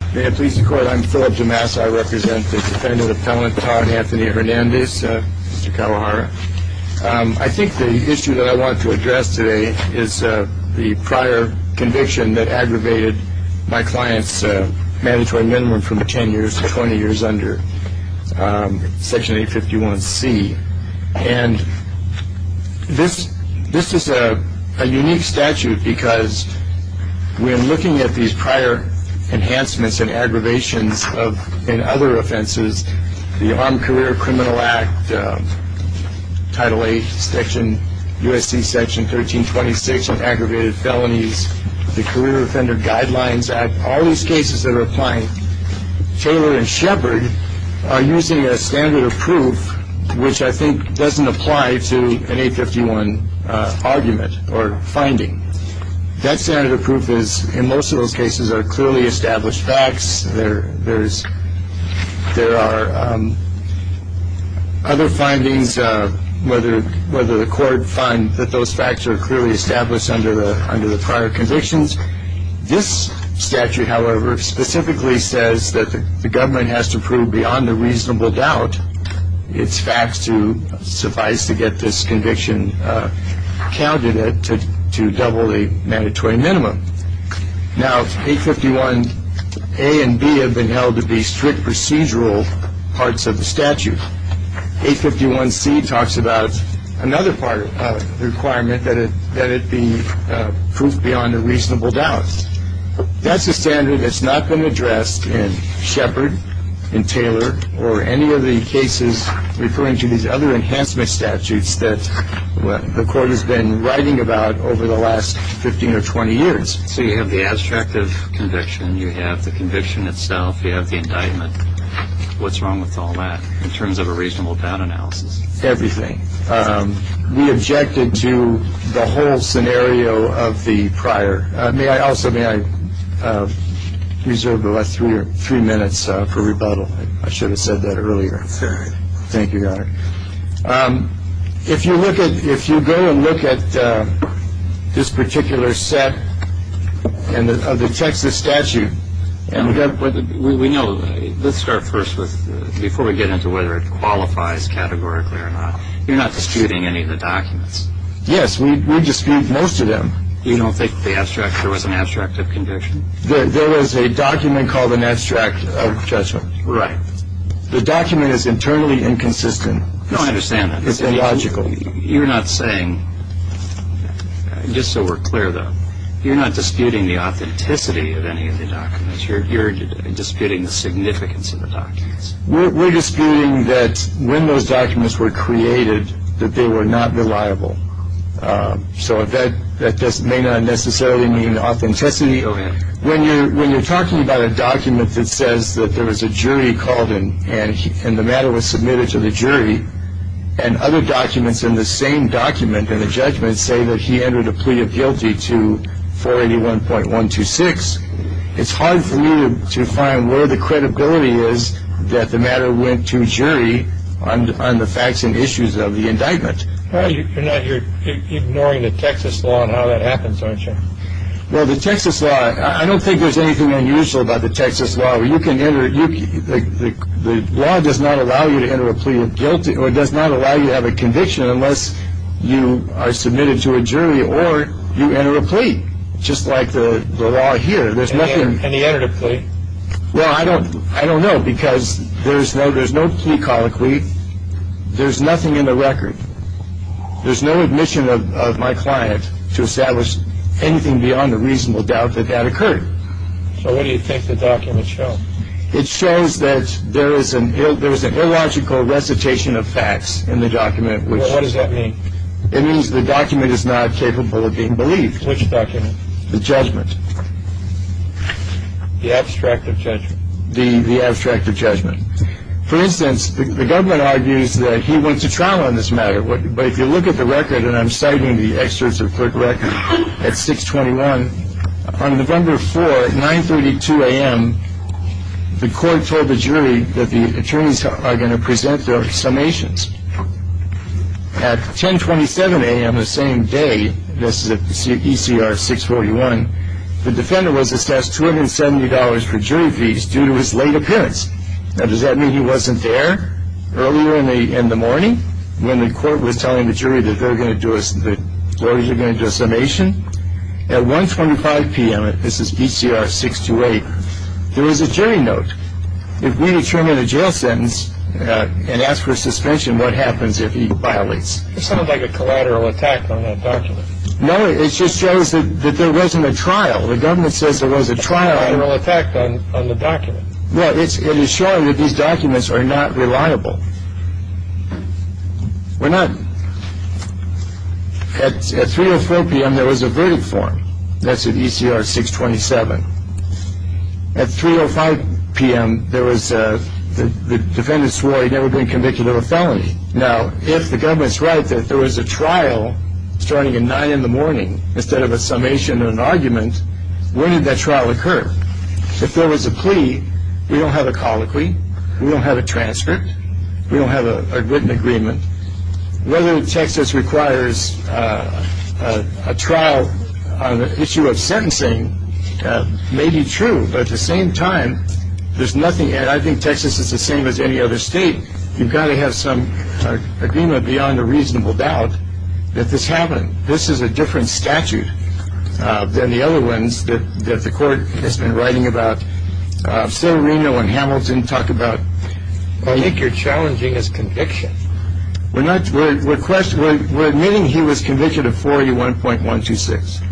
I think the issue that I want to address today is the prior conviction that aggravated my client's mandatory minimum from 10 years to 20 years under Section 851C. And this is a unique statute because when looking at these prior enhancements and aggravations in other offenses, the Armed Career Criminal Act, Title 8 section, USC section 1326 on aggravated felonies, the Career Offender Guidelines Act, all these cases that are applying Taylor and Shepard are using a standard of proof which I think doesn't apply to an 851 argument or finding. That standard of proof is in most of those cases are clearly established facts. There are other findings whether the court finds that those facts are clearly established under the prior convictions. This statute, however, specifically says that the government has to prove beyond a reasonable doubt its facts to suffice to get this conviction counted to double the mandatory minimum. Now 851A and B have been held to be strict procedural parts of the statute. 851C talks about another part of the requirement that it be proved beyond a reasonable doubt. That's a standard that's not been addressed in Shepard, in Taylor, or any of the cases referring to these other enhancement statutes that the court has been writing about over the last 15 or 20 years. So you have the abstract of conviction, you have the conviction itself, you have the indictment. What's wrong with all that in terms of a reasonable doubt analysis? Everything. We objected to the whole scenario of the prior. May I also reserve the last three minutes for rebuttal. Thank you, Your Honor. If you look at if you go and look at this particular set of the Texas statute. We know. Let's start first with before we get into whether it qualifies categorically or not. You're not disputing any of the documents. Yes, we dispute most of them. You don't think there was an abstract of conviction? There was a document called an abstract of judgment. Right. The document is internally inconsistent. No, I understand that. It's illogical. You're not saying, just so we're clear, though, you're not disputing the authenticity of any of the documents. You're disputing the significance of the documents. We're disputing that when those documents were created, that they were not reliable. So that may not necessarily mean authenticity. Go ahead. When you're talking about a document that says that there was a jury called in and the matter was submitted to the jury and other documents in the same document in the judgment say that he entered a plea of guilty to 481.126, it's hard for me to find where the credibility is that the matter went to jury on the facts and issues of the indictment. You're ignoring the Texas law and how that happens, aren't you? Well, the Texas law, I don't think there's anything unusual about the Texas law. The law does not allow you to enter a plea of guilty or does not allow you to have a conviction unless you are submitted to a jury or you enter a plea, just like the law here. And he entered a plea? Well, I don't know because there's no plea called a plea. There's nothing in the record. There's no admission of my client to establish anything beyond a reasonable doubt that that occurred. So what do you think the documents show? It shows that there was an illogical recitation of facts in the document. What does that mean? It means the document is not capable of being believed. Which document? The judgment. The abstract of judgment? The abstract of judgment. For instance, the government argues that he went to trial on this matter. But if you look at the record, and I'm citing the excerpts of the court record at 621, on November 4, at 9.32 a.m., the court told the jury that the attorneys are going to present their summations. At 10.27 a.m. the same day, this is at ECR 641, the defendant was assessed $270 for jury fees due to his late appearance. Now, does that mean he wasn't there earlier in the morning when the court was telling the jury that they're going to do a summation? At 1.25 p.m., this is ECR 628, there is a jury note. If we determine a jail sentence and ask for a suspension, what happens if he violates? It sounds like a collateral attack on that document. No, it just shows that there wasn't a trial. The government says there was a trial. A collateral attack on the document. No, it is showing that these documents are not reliable. We're not. At 3.04 p.m. there was a verdict form. That's at ECR 627. At 3.05 p.m. the defendant swore he'd never been convicted of a felony. Now, if the government's right that there was a trial starting at 9 in the morning instead of a summation and an argument, when did that trial occur? If there was a plea, we don't have a colloquy, we don't have a transcript, we don't have a written agreement. Whether Texas requires a trial on the issue of sentencing may be true, but at the same time, there's nothing, and I think Texas is the same as any other state, you've got to have some agreement beyond a reasonable doubt that this happened. This is a different statute than the other ones that the court has been writing about. Sotomayor and Hamilton talk about. I think you're challenging his conviction. We're admitting he was convicted of 41.126.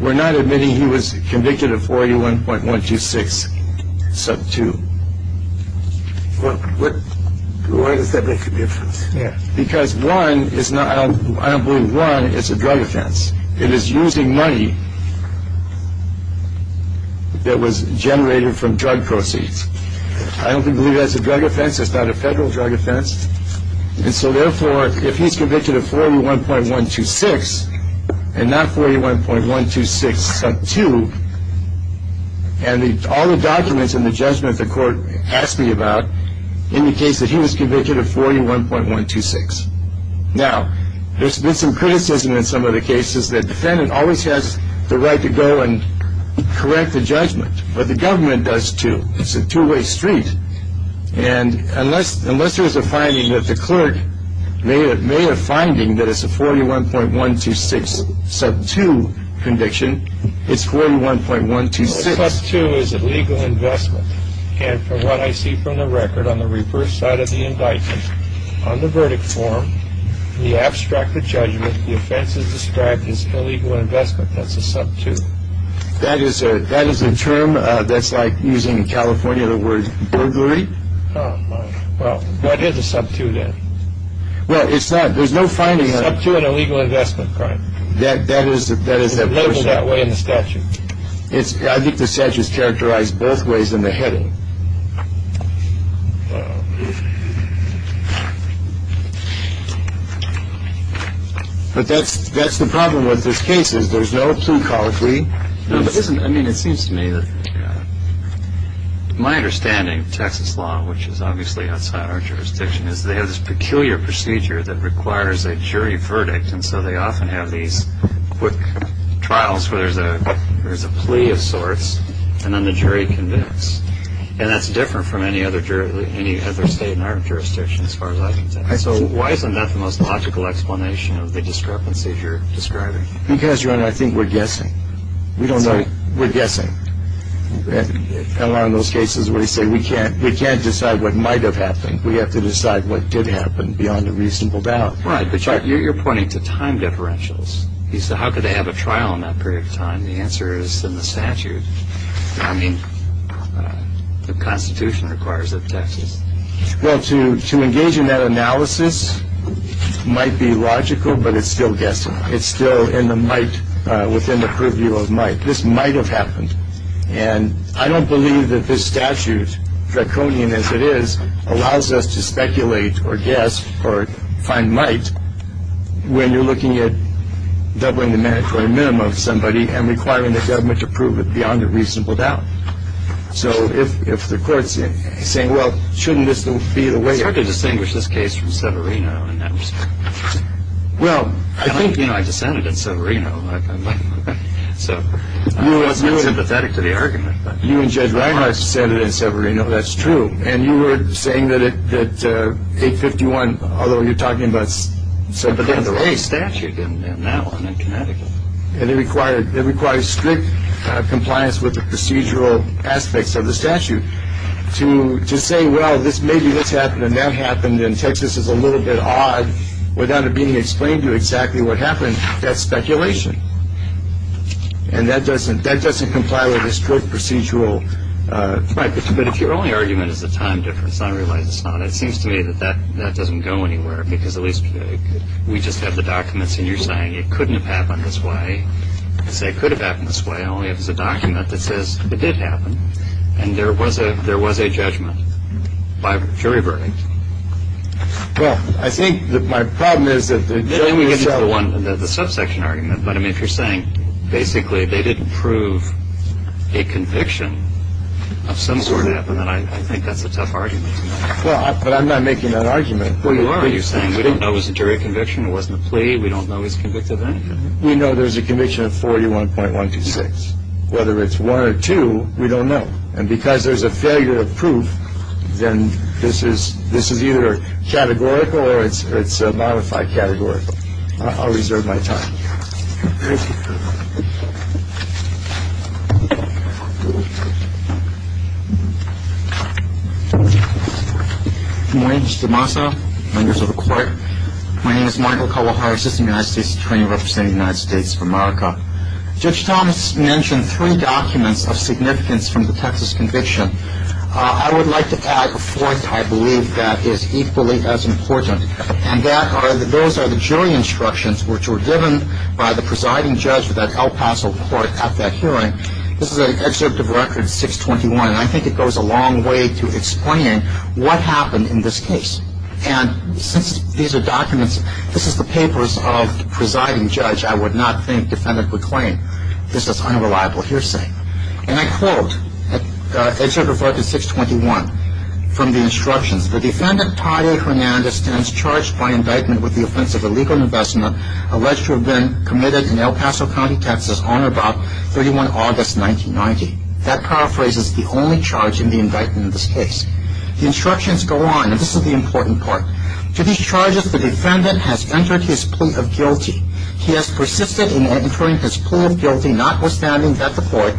We're not admitting he was convicted of 41.126 sub 2. Why does that make a difference? Because one, I don't believe one, it's a drug offense. It is using money that was generated from drug proceeds. I don't believe that's a drug offense. It's not a federal drug offense. And so therefore, if he's convicted of 41.126 and not 41.126 sub 2, and all the documents in the judgment the court asked me about indicates that he was convicted of 41.126. Now, there's been some criticism in some of the cases that the defendant always has the right to go and correct the judgment, but the government does too. It's a two-way street. And unless there's a finding that the clerk made a finding that it's a 41.126 sub 2 conviction, it's 41.126. A sub 2 is a legal investment. And from what I see from the record on the reverse side of the indictment, on the verdict form, the abstract of judgment, the offense is described as illegal investment. That's a sub 2. That is a term that's like using in California the word burglary. Oh, my. Well, what is a sub 2 then? Well, it's not. There's no finding on it. Sub 2, an illegal investment crime. It's labeled that way in the statute. I think the statute is characterized both ways in the heading. But that's the problem with this case is there's no two-caller three. I mean, it seems to me that my understanding of Texas law, which is obviously outside our jurisdiction, is they have this peculiar procedure that requires a jury verdict. And so they often have these quick trials where there's a plea of sorts, and then the jury convicts. And that's different from any other state in our jurisdiction as far as I can tell. So why isn't that the most logical explanation of the discrepancies you're describing? Because, Your Honor, I think we're guessing. We don't know. We're guessing. And a lot of those cases where they say we can't decide what might have happened, we have to decide what did happen beyond a reasonable doubt. Right. But you're pointing to time differentials. You say, how could they have a trial in that period of time? The answer is in the statute. I mean, the Constitution requires it of Texas. Well, to engage in that analysis might be logical, but it's still guessing. It's still in the might, within the purview of might. This might have happened. And I don't believe that this statute, draconian as it is, allows us to speculate or guess or find might when you're looking at doubling the mandatory minimum of somebody and requiring the government to prove it beyond a reasonable doubt. So if the court's saying, well, shouldn't this be the way? It's hard to distinguish this case from Severino in that respect. Well, I think, you know, I descended in Severino. So I'm sympathetic to the argument. You and Judge Reinhardt descended in Severino. That's true. And you were saying that 851, although you're talking about Severino. But there's a statute in that one, in Connecticut. And it requires strict compliance with the procedural aspects of the statute to say, well, maybe this happened and that happened and Texas is a little bit odd without it being explained to you exactly what happened. That's speculation. And that doesn't comply with the strict procedural. But if your only argument is the time difference, I realize it's not. It seems to me that that doesn't go anywhere, because at least we just have the documents and you're saying it couldn't have happened this way. You say it could have happened this way, only it was a document that says it did happen. And there was a judgment by jury verdict. Well, I think that my problem is that the jury itself. Let me get into the one, the subsection argument. But I mean, if you're saying basically they didn't prove a conviction of some sort, I think that's a tough argument. Well, but I'm not making that argument. What are you saying? We didn't know it was a jury conviction. It wasn't a plea. We don't know he's convicted of anything. We know there's a conviction of 41.126. Whether it's one or two, we don't know. And because there's a failure of proof, then this is either categorical or it's a modified categorical. I'll reserve my time. Thank you. Good morning, Mr. Massa, members of the court. My name is Michael Kalahari, Assistant United States Attorney representing the United States for America. Judge Thomas mentioned three documents of significance from the Texas conviction. I would like to add a fourth. I believe that is equally as important. And those are the jury instructions which were given by the presiding judge of that El Paso court at that hearing. This is Excerpt of Record 621, and I think it goes a long way to explain what happened in this case. And since these are documents, this is the papers of the presiding judge, I would not think defendant would claim this is unreliable hearsay. And I quote Excerpt of Record 621 from the instructions. The defendant, Todd A. Hernandez, stands charged by indictment with the offense of illegal investment alleged to have been committed in El Paso County, Texas on or about 31 August 1990. That paraphrases the only charge in the indictment in this case. The instructions go on, and this is the important part. To these charges, the defendant has entered his plea of guilty. He has persisted in entering his plea of guilty, notwithstanding that the court,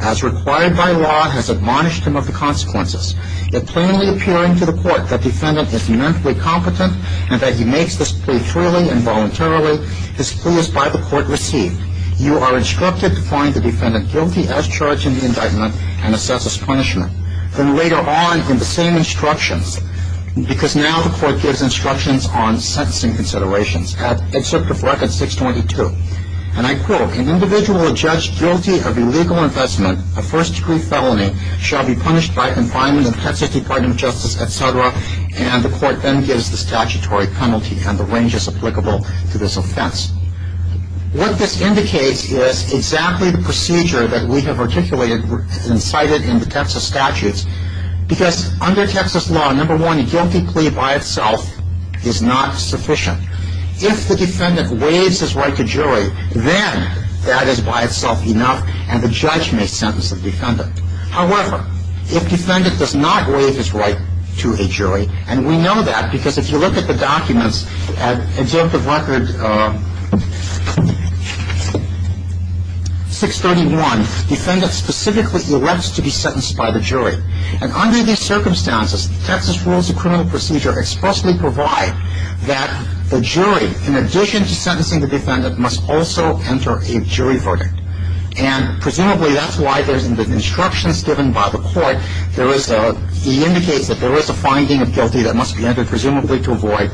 as required by law, has admonished him of the consequences. Yet plainly appearing to the court that defendant is mentally competent and that he makes this plea freely and voluntarily, his plea is by the court received. You are instructed to find the defendant guilty as charged in the indictment and assess his punishment. Then later on in the same instructions, because now the court gives instructions on sentencing considerations, at Excerpt of Record 622. And I quote, An individual judged guilty of illegal investment, a first-degree felony, shall be punished by confinement in the Texas Department of Justice, etc. And the court then gives the statutory penalty, and the range is applicable to this offense. What this indicates is exactly the procedure that we have articulated and cited in the Texas statutes. Because under Texas law, number one, a guilty plea by itself is not sufficient. If the defendant waives his right to jury, then that is by itself enough, and the judge may sentence the defendant. However, if defendant does not waive his right to a jury, and we know that because if you look at the documents at Excerpt of Record 631, defendant specifically elects to be sentenced by the jury. And under these circumstances, Texas Rules of Criminal Procedure expressly provide that the jury, in addition to sentencing the defendant, must also enter a jury verdict. And presumably that's why there's instructions given by the court. There is a – it indicates that there is a finding of guilty that must be entered presumably to avoid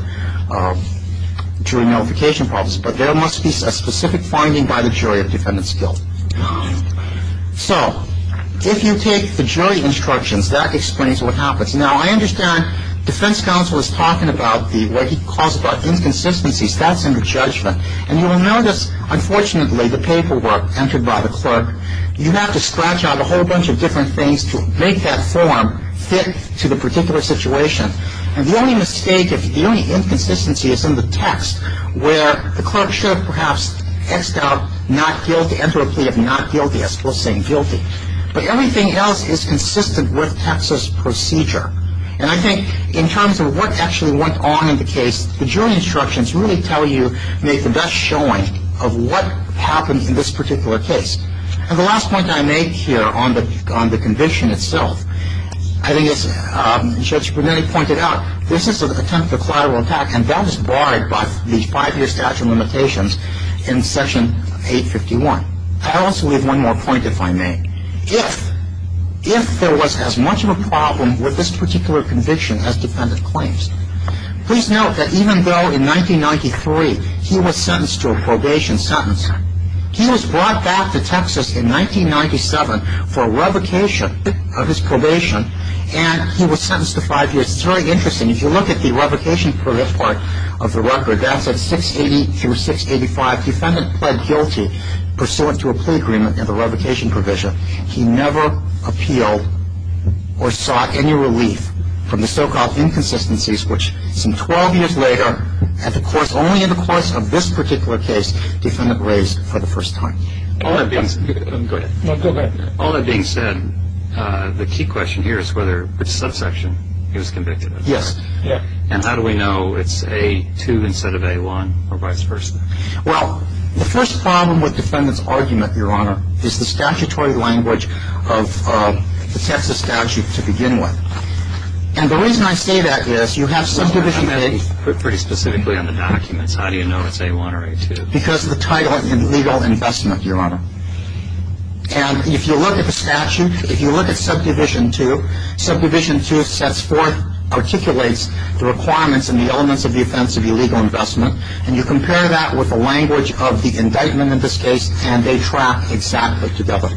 jury notification problems. But there must be a specific finding by the jury of defendant's guilt. So if you take the jury instructions, that explains what happens. Now, I understand defense counsel is talking about the – what he calls about inconsistencies. That's under judgment. And you will notice, unfortunately, the paperwork entered by the clerk. You have to scratch out a whole bunch of different things to make that form fit to the particular situation. And the only mistake, the only inconsistency is in the text, where the clerk should have perhaps X'd out not guilty, enter a plea of not guilty, as opposed to saying guilty. But everything else is consistent with Texas procedure. And I think in terms of what actually went on in the case, the jury instructions really tell you – make the best showing of what happened in this particular case. And the last point I make here on the – on the conviction itself, I think as Judge Brunetti pointed out, this is an attempt at a collateral attack, and that was barred by the five-year statute of limitations in Section 851. I also leave one more point, if I may. If – if there was as much of a problem with this particular conviction as defendant claims, please note that even though in 1993 he was sentenced to a probation sentence, he was brought back to Texas in 1997 for revocation of his probation, and he was sentenced to five years. It's very interesting. If you look at the revocation part of the record, that's at 680 through 685, defendant pled guilty pursuant to a plea agreement and the revocation provision. He never appealed or sought any relief from the so-called inconsistencies, which some 12 years later, at the course – only in the course of this particular case, defendant raised for the first time. All that being – go ahead. No, go ahead. All that being said, the key question here is whether the subsection he was convicted of. Yes. And how do we know it's A2 instead of A1 or vice versa? Well, the first problem with defendant's argument, Your Honor, is the statutory language of the Texas statute to begin with. And the reason I say that is you have subdivision A. I'm going to be pretty specifically on the documents. How do you know it's A1 or A2? Because of the title of illegal investment, Your Honor. And if you look at the statute, if you look at subdivision 2, subdivision 2 sets forth – articulates the requirements and the elements of the offense of illegal investment, and you compare that with the language of the indictment in this case, and they track exactly together.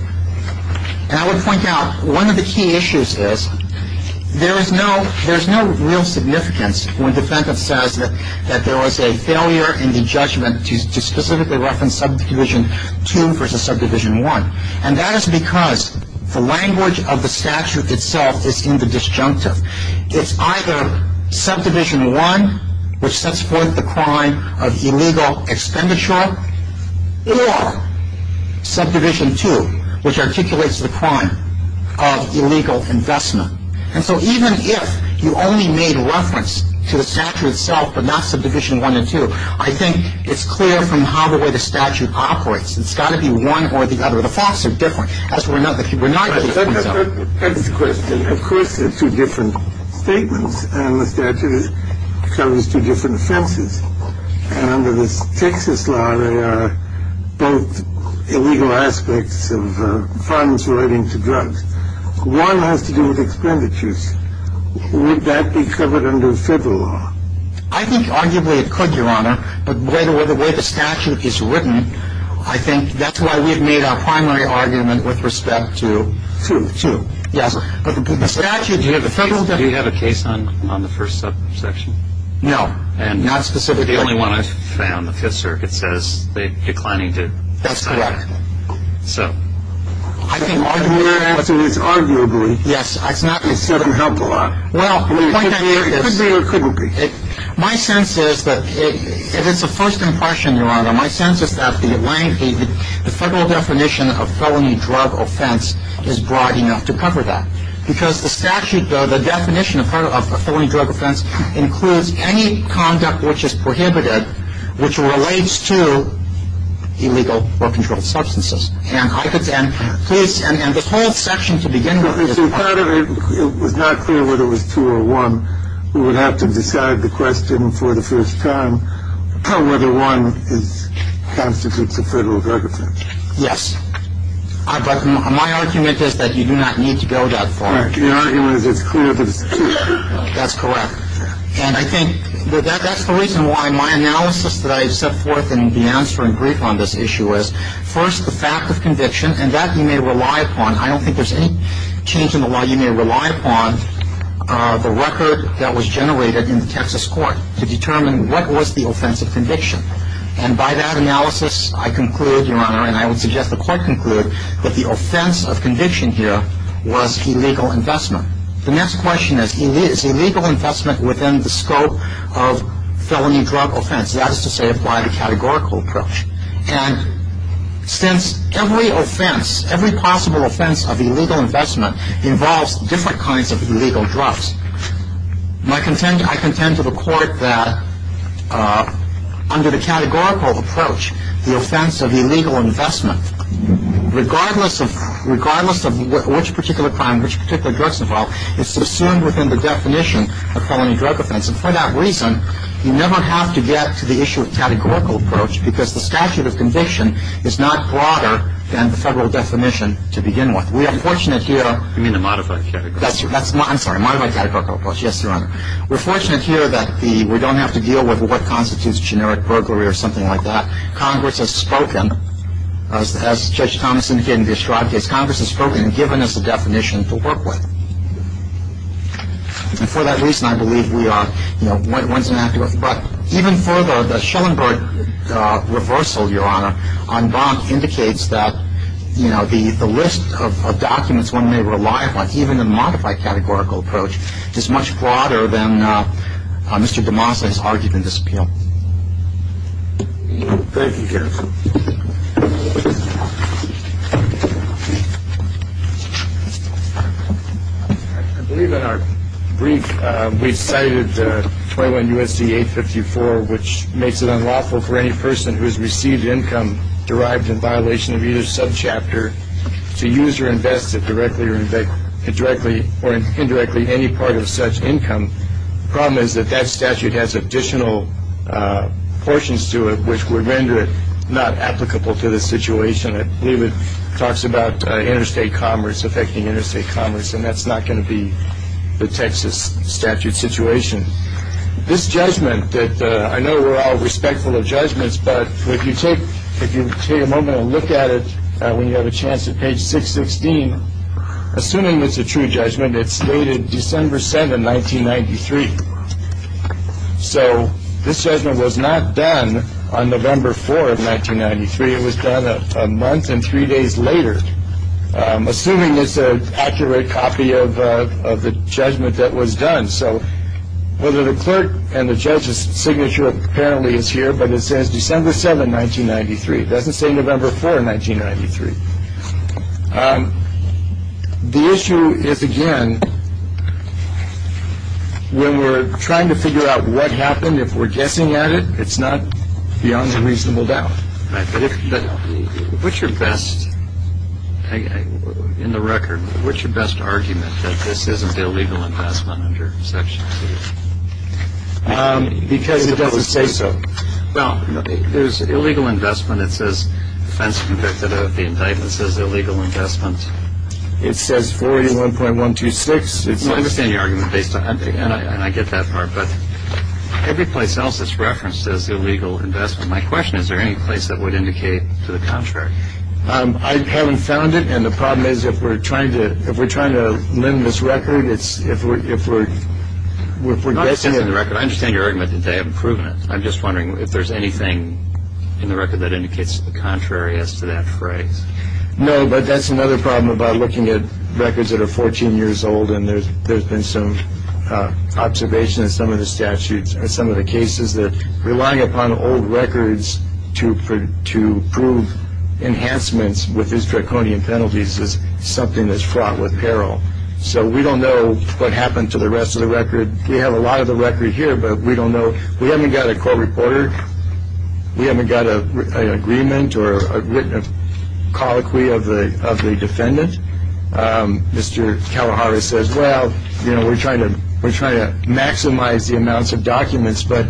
And I would point out one of the key issues is there is no real significance when defendant says that there was a failure in the judgment to specifically reference subdivision 2 versus subdivision 1. And that is because the language of the statute itself is in the disjunctive. It's either subdivision 1, which sets forth the crime of illegal expenditure, or subdivision 2, which articulates the crime of illegal investment. And so even if you only made reference to the statute itself, but not subdivision 1 and 2, I think it's clear from how the way the statute operates. It's got to be one or the other. The facts are different. As we're not – we're not – That's the question. Of course, they're two different statements, and the statute covers two different offenses. And under the Texas law, they are both illegal aspects of funds relating to drugs. One has to do with expenditures. Would that be covered under federal law? I think arguably it could, Your Honor, but the way the statute is written, I think that's why we've made our primary argument with respect to – 2. 2. Yes. Do you have a case on the first subsection? No. Not specifically? The only one I've found, the Fifth Circuit says they're declining to sign that. That's correct. So. I think – Your answer is arguably. Yes, it's not – It doesn't help a lot. Well, the point I made is – It could be or it couldn't be. My sense is that if it's a first impression, Your Honor, my sense is that the federal definition of felony drug offense is broad enough to cover that. Because the statute, the definition of felony drug offense includes any conduct which is prohibited, which relates to illegal or controlled substances. And I could – and please – and the whole section to begin with is – It was not clear whether it was 2 or 1. We would have to decide the question for the first time whether 1 constitutes a federal drug offense. Yes. But my argument is that you do not need to go that far. The argument is it's clear that it's 2. That's correct. And I think that that's the reason why my analysis that I set forth in the answer in brief on this issue is, first, the fact of conviction, and that you may rely upon. I don't think there's any change in the law. You may rely upon the record that was generated in the Texas court to determine what was the offensive conviction. And by that analysis, I conclude, Your Honor, and I would suggest the court conclude, that the offense of conviction here was illegal investment. The next question is, is illegal investment within the scope of felony drug offense? That is to say, apply the categorical approach. And since every offense, every possible offense of illegal investment involves different kinds of illegal drugs, I contend to the court that under the categorical approach, the offense of illegal investment, regardless of which particular crime, which particular drugs involved, is subsumed within the definition of felony drug offense. And for that reason, you never have to get to the issue of categorical approach because the statute of conviction is not broader than the federal definition to begin with. We are fortunate here. You mean the modified category? I'm sorry. Modified categorical approach. Yes, Your Honor. We're fortunate here that we don't have to deal with what constitutes generic burglary or something like that. Congress has spoken, as Judge Thomas indicated in the Estrada case, Congress has spoken and given us a definition to work with. And for that reason, I believe we are, you know, once and after. It indicates that, you know, the list of documents one may rely upon, even in the modified categorical approach, is much broader than Mr. DeMassa's argument in this appeal. Thank you, counsel. I believe in our brief we cited 21 U.S.C. 854, which makes it unlawful for any person who has received income derived in violation of either subchapter to use or invest it directly or indirectly or indirectly in any part of such income. The problem is that that statute has additional portions to it which would render it not applicable to the situation. I believe it talks about interstate commerce affecting interstate commerce, and that's not going to be the Texas statute situation. This judgment that I know we're all respectful of judgments, but if you take if you take a moment and look at it when you have a chance at page 616, assuming it's a true judgment, it's dated December 7, 1993. So this judgment was not done on November 4 of 1993. It was done a month and three days later, assuming it's an accurate copy of the judgment that was done. So whether the clerk and the judge's signature apparently is here, but it says December 7, 1993, doesn't say November 4, 1993. The issue is, again, when we're trying to figure out what happened, if we're guessing at it, it's not beyond a reasonable doubt. But what's your best in the record? What's your best argument that this isn't the illegal investment under section two? Because it doesn't say so. Well, there's illegal investment. It says defense convicted of the indictments as illegal investments. It says 41.126. It's an argument based on. And I get that part. But every place else is referenced as illegal investment. My question is, is there any place that would indicate to the contrary? I haven't found it. And the problem is if we're trying to if we're trying to limit this record, it's if we're if we're if we're guessing at the record. I understand your argument today. I've proven it. I'm just wondering if there's anything in the record that indicates the contrary as to that phrase. No, but that's another problem about looking at records that are 14 years old. And there's been some observation in some of the statutes and some of the cases that relying upon old records to to prove enhancements with these draconian penalties is something that's fraught with peril. So we don't know what happened to the rest of the record. We have a lot of the record here, but we don't know. We haven't got a court reporter. We haven't got an agreement or written a colloquy of the of the defendant. Mr. Kalahari says, well, you know, we're trying to we're trying to maximize the amounts of documents. But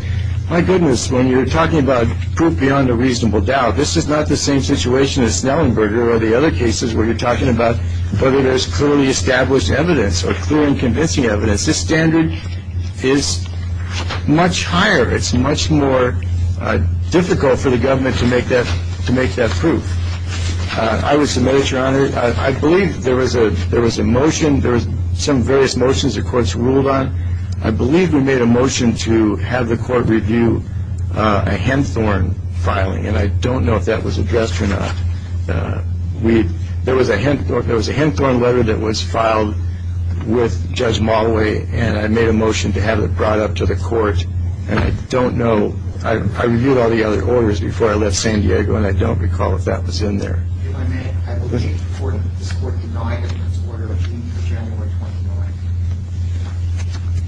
my goodness, when you're talking about proof beyond a reasonable doubt, this is not the same situation as Snellenberger or the other cases where you're talking about whether there's clearly established evidence or clear and convincing evidence. This standard is much higher. It's much more difficult for the government to make that to make that proof. I would submit it, Your Honor. I believe there was a there was a motion. There was some various motions the courts ruled on. I believe we made a motion to have the court review a Henthorne filing. And I don't know if that was addressed or not. We there was a Henthorne. There was a Henthorne letter that was filed with Judge Mulway. And I made a motion to have it brought up to the court. And I don't know. I reviewed all the other orders before I left San Diego. And I don't recall if that was in there.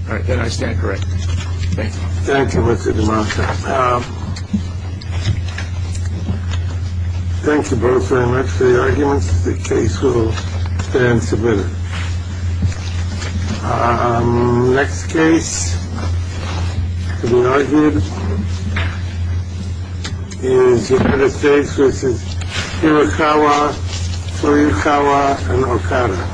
All right. Then I stand corrected. Thank you. Thank you. Thank you both very much for your arguments. The case will stand submitted. Next case to be argued is the other case, which is Hirokawa, Toyokawa and Okada.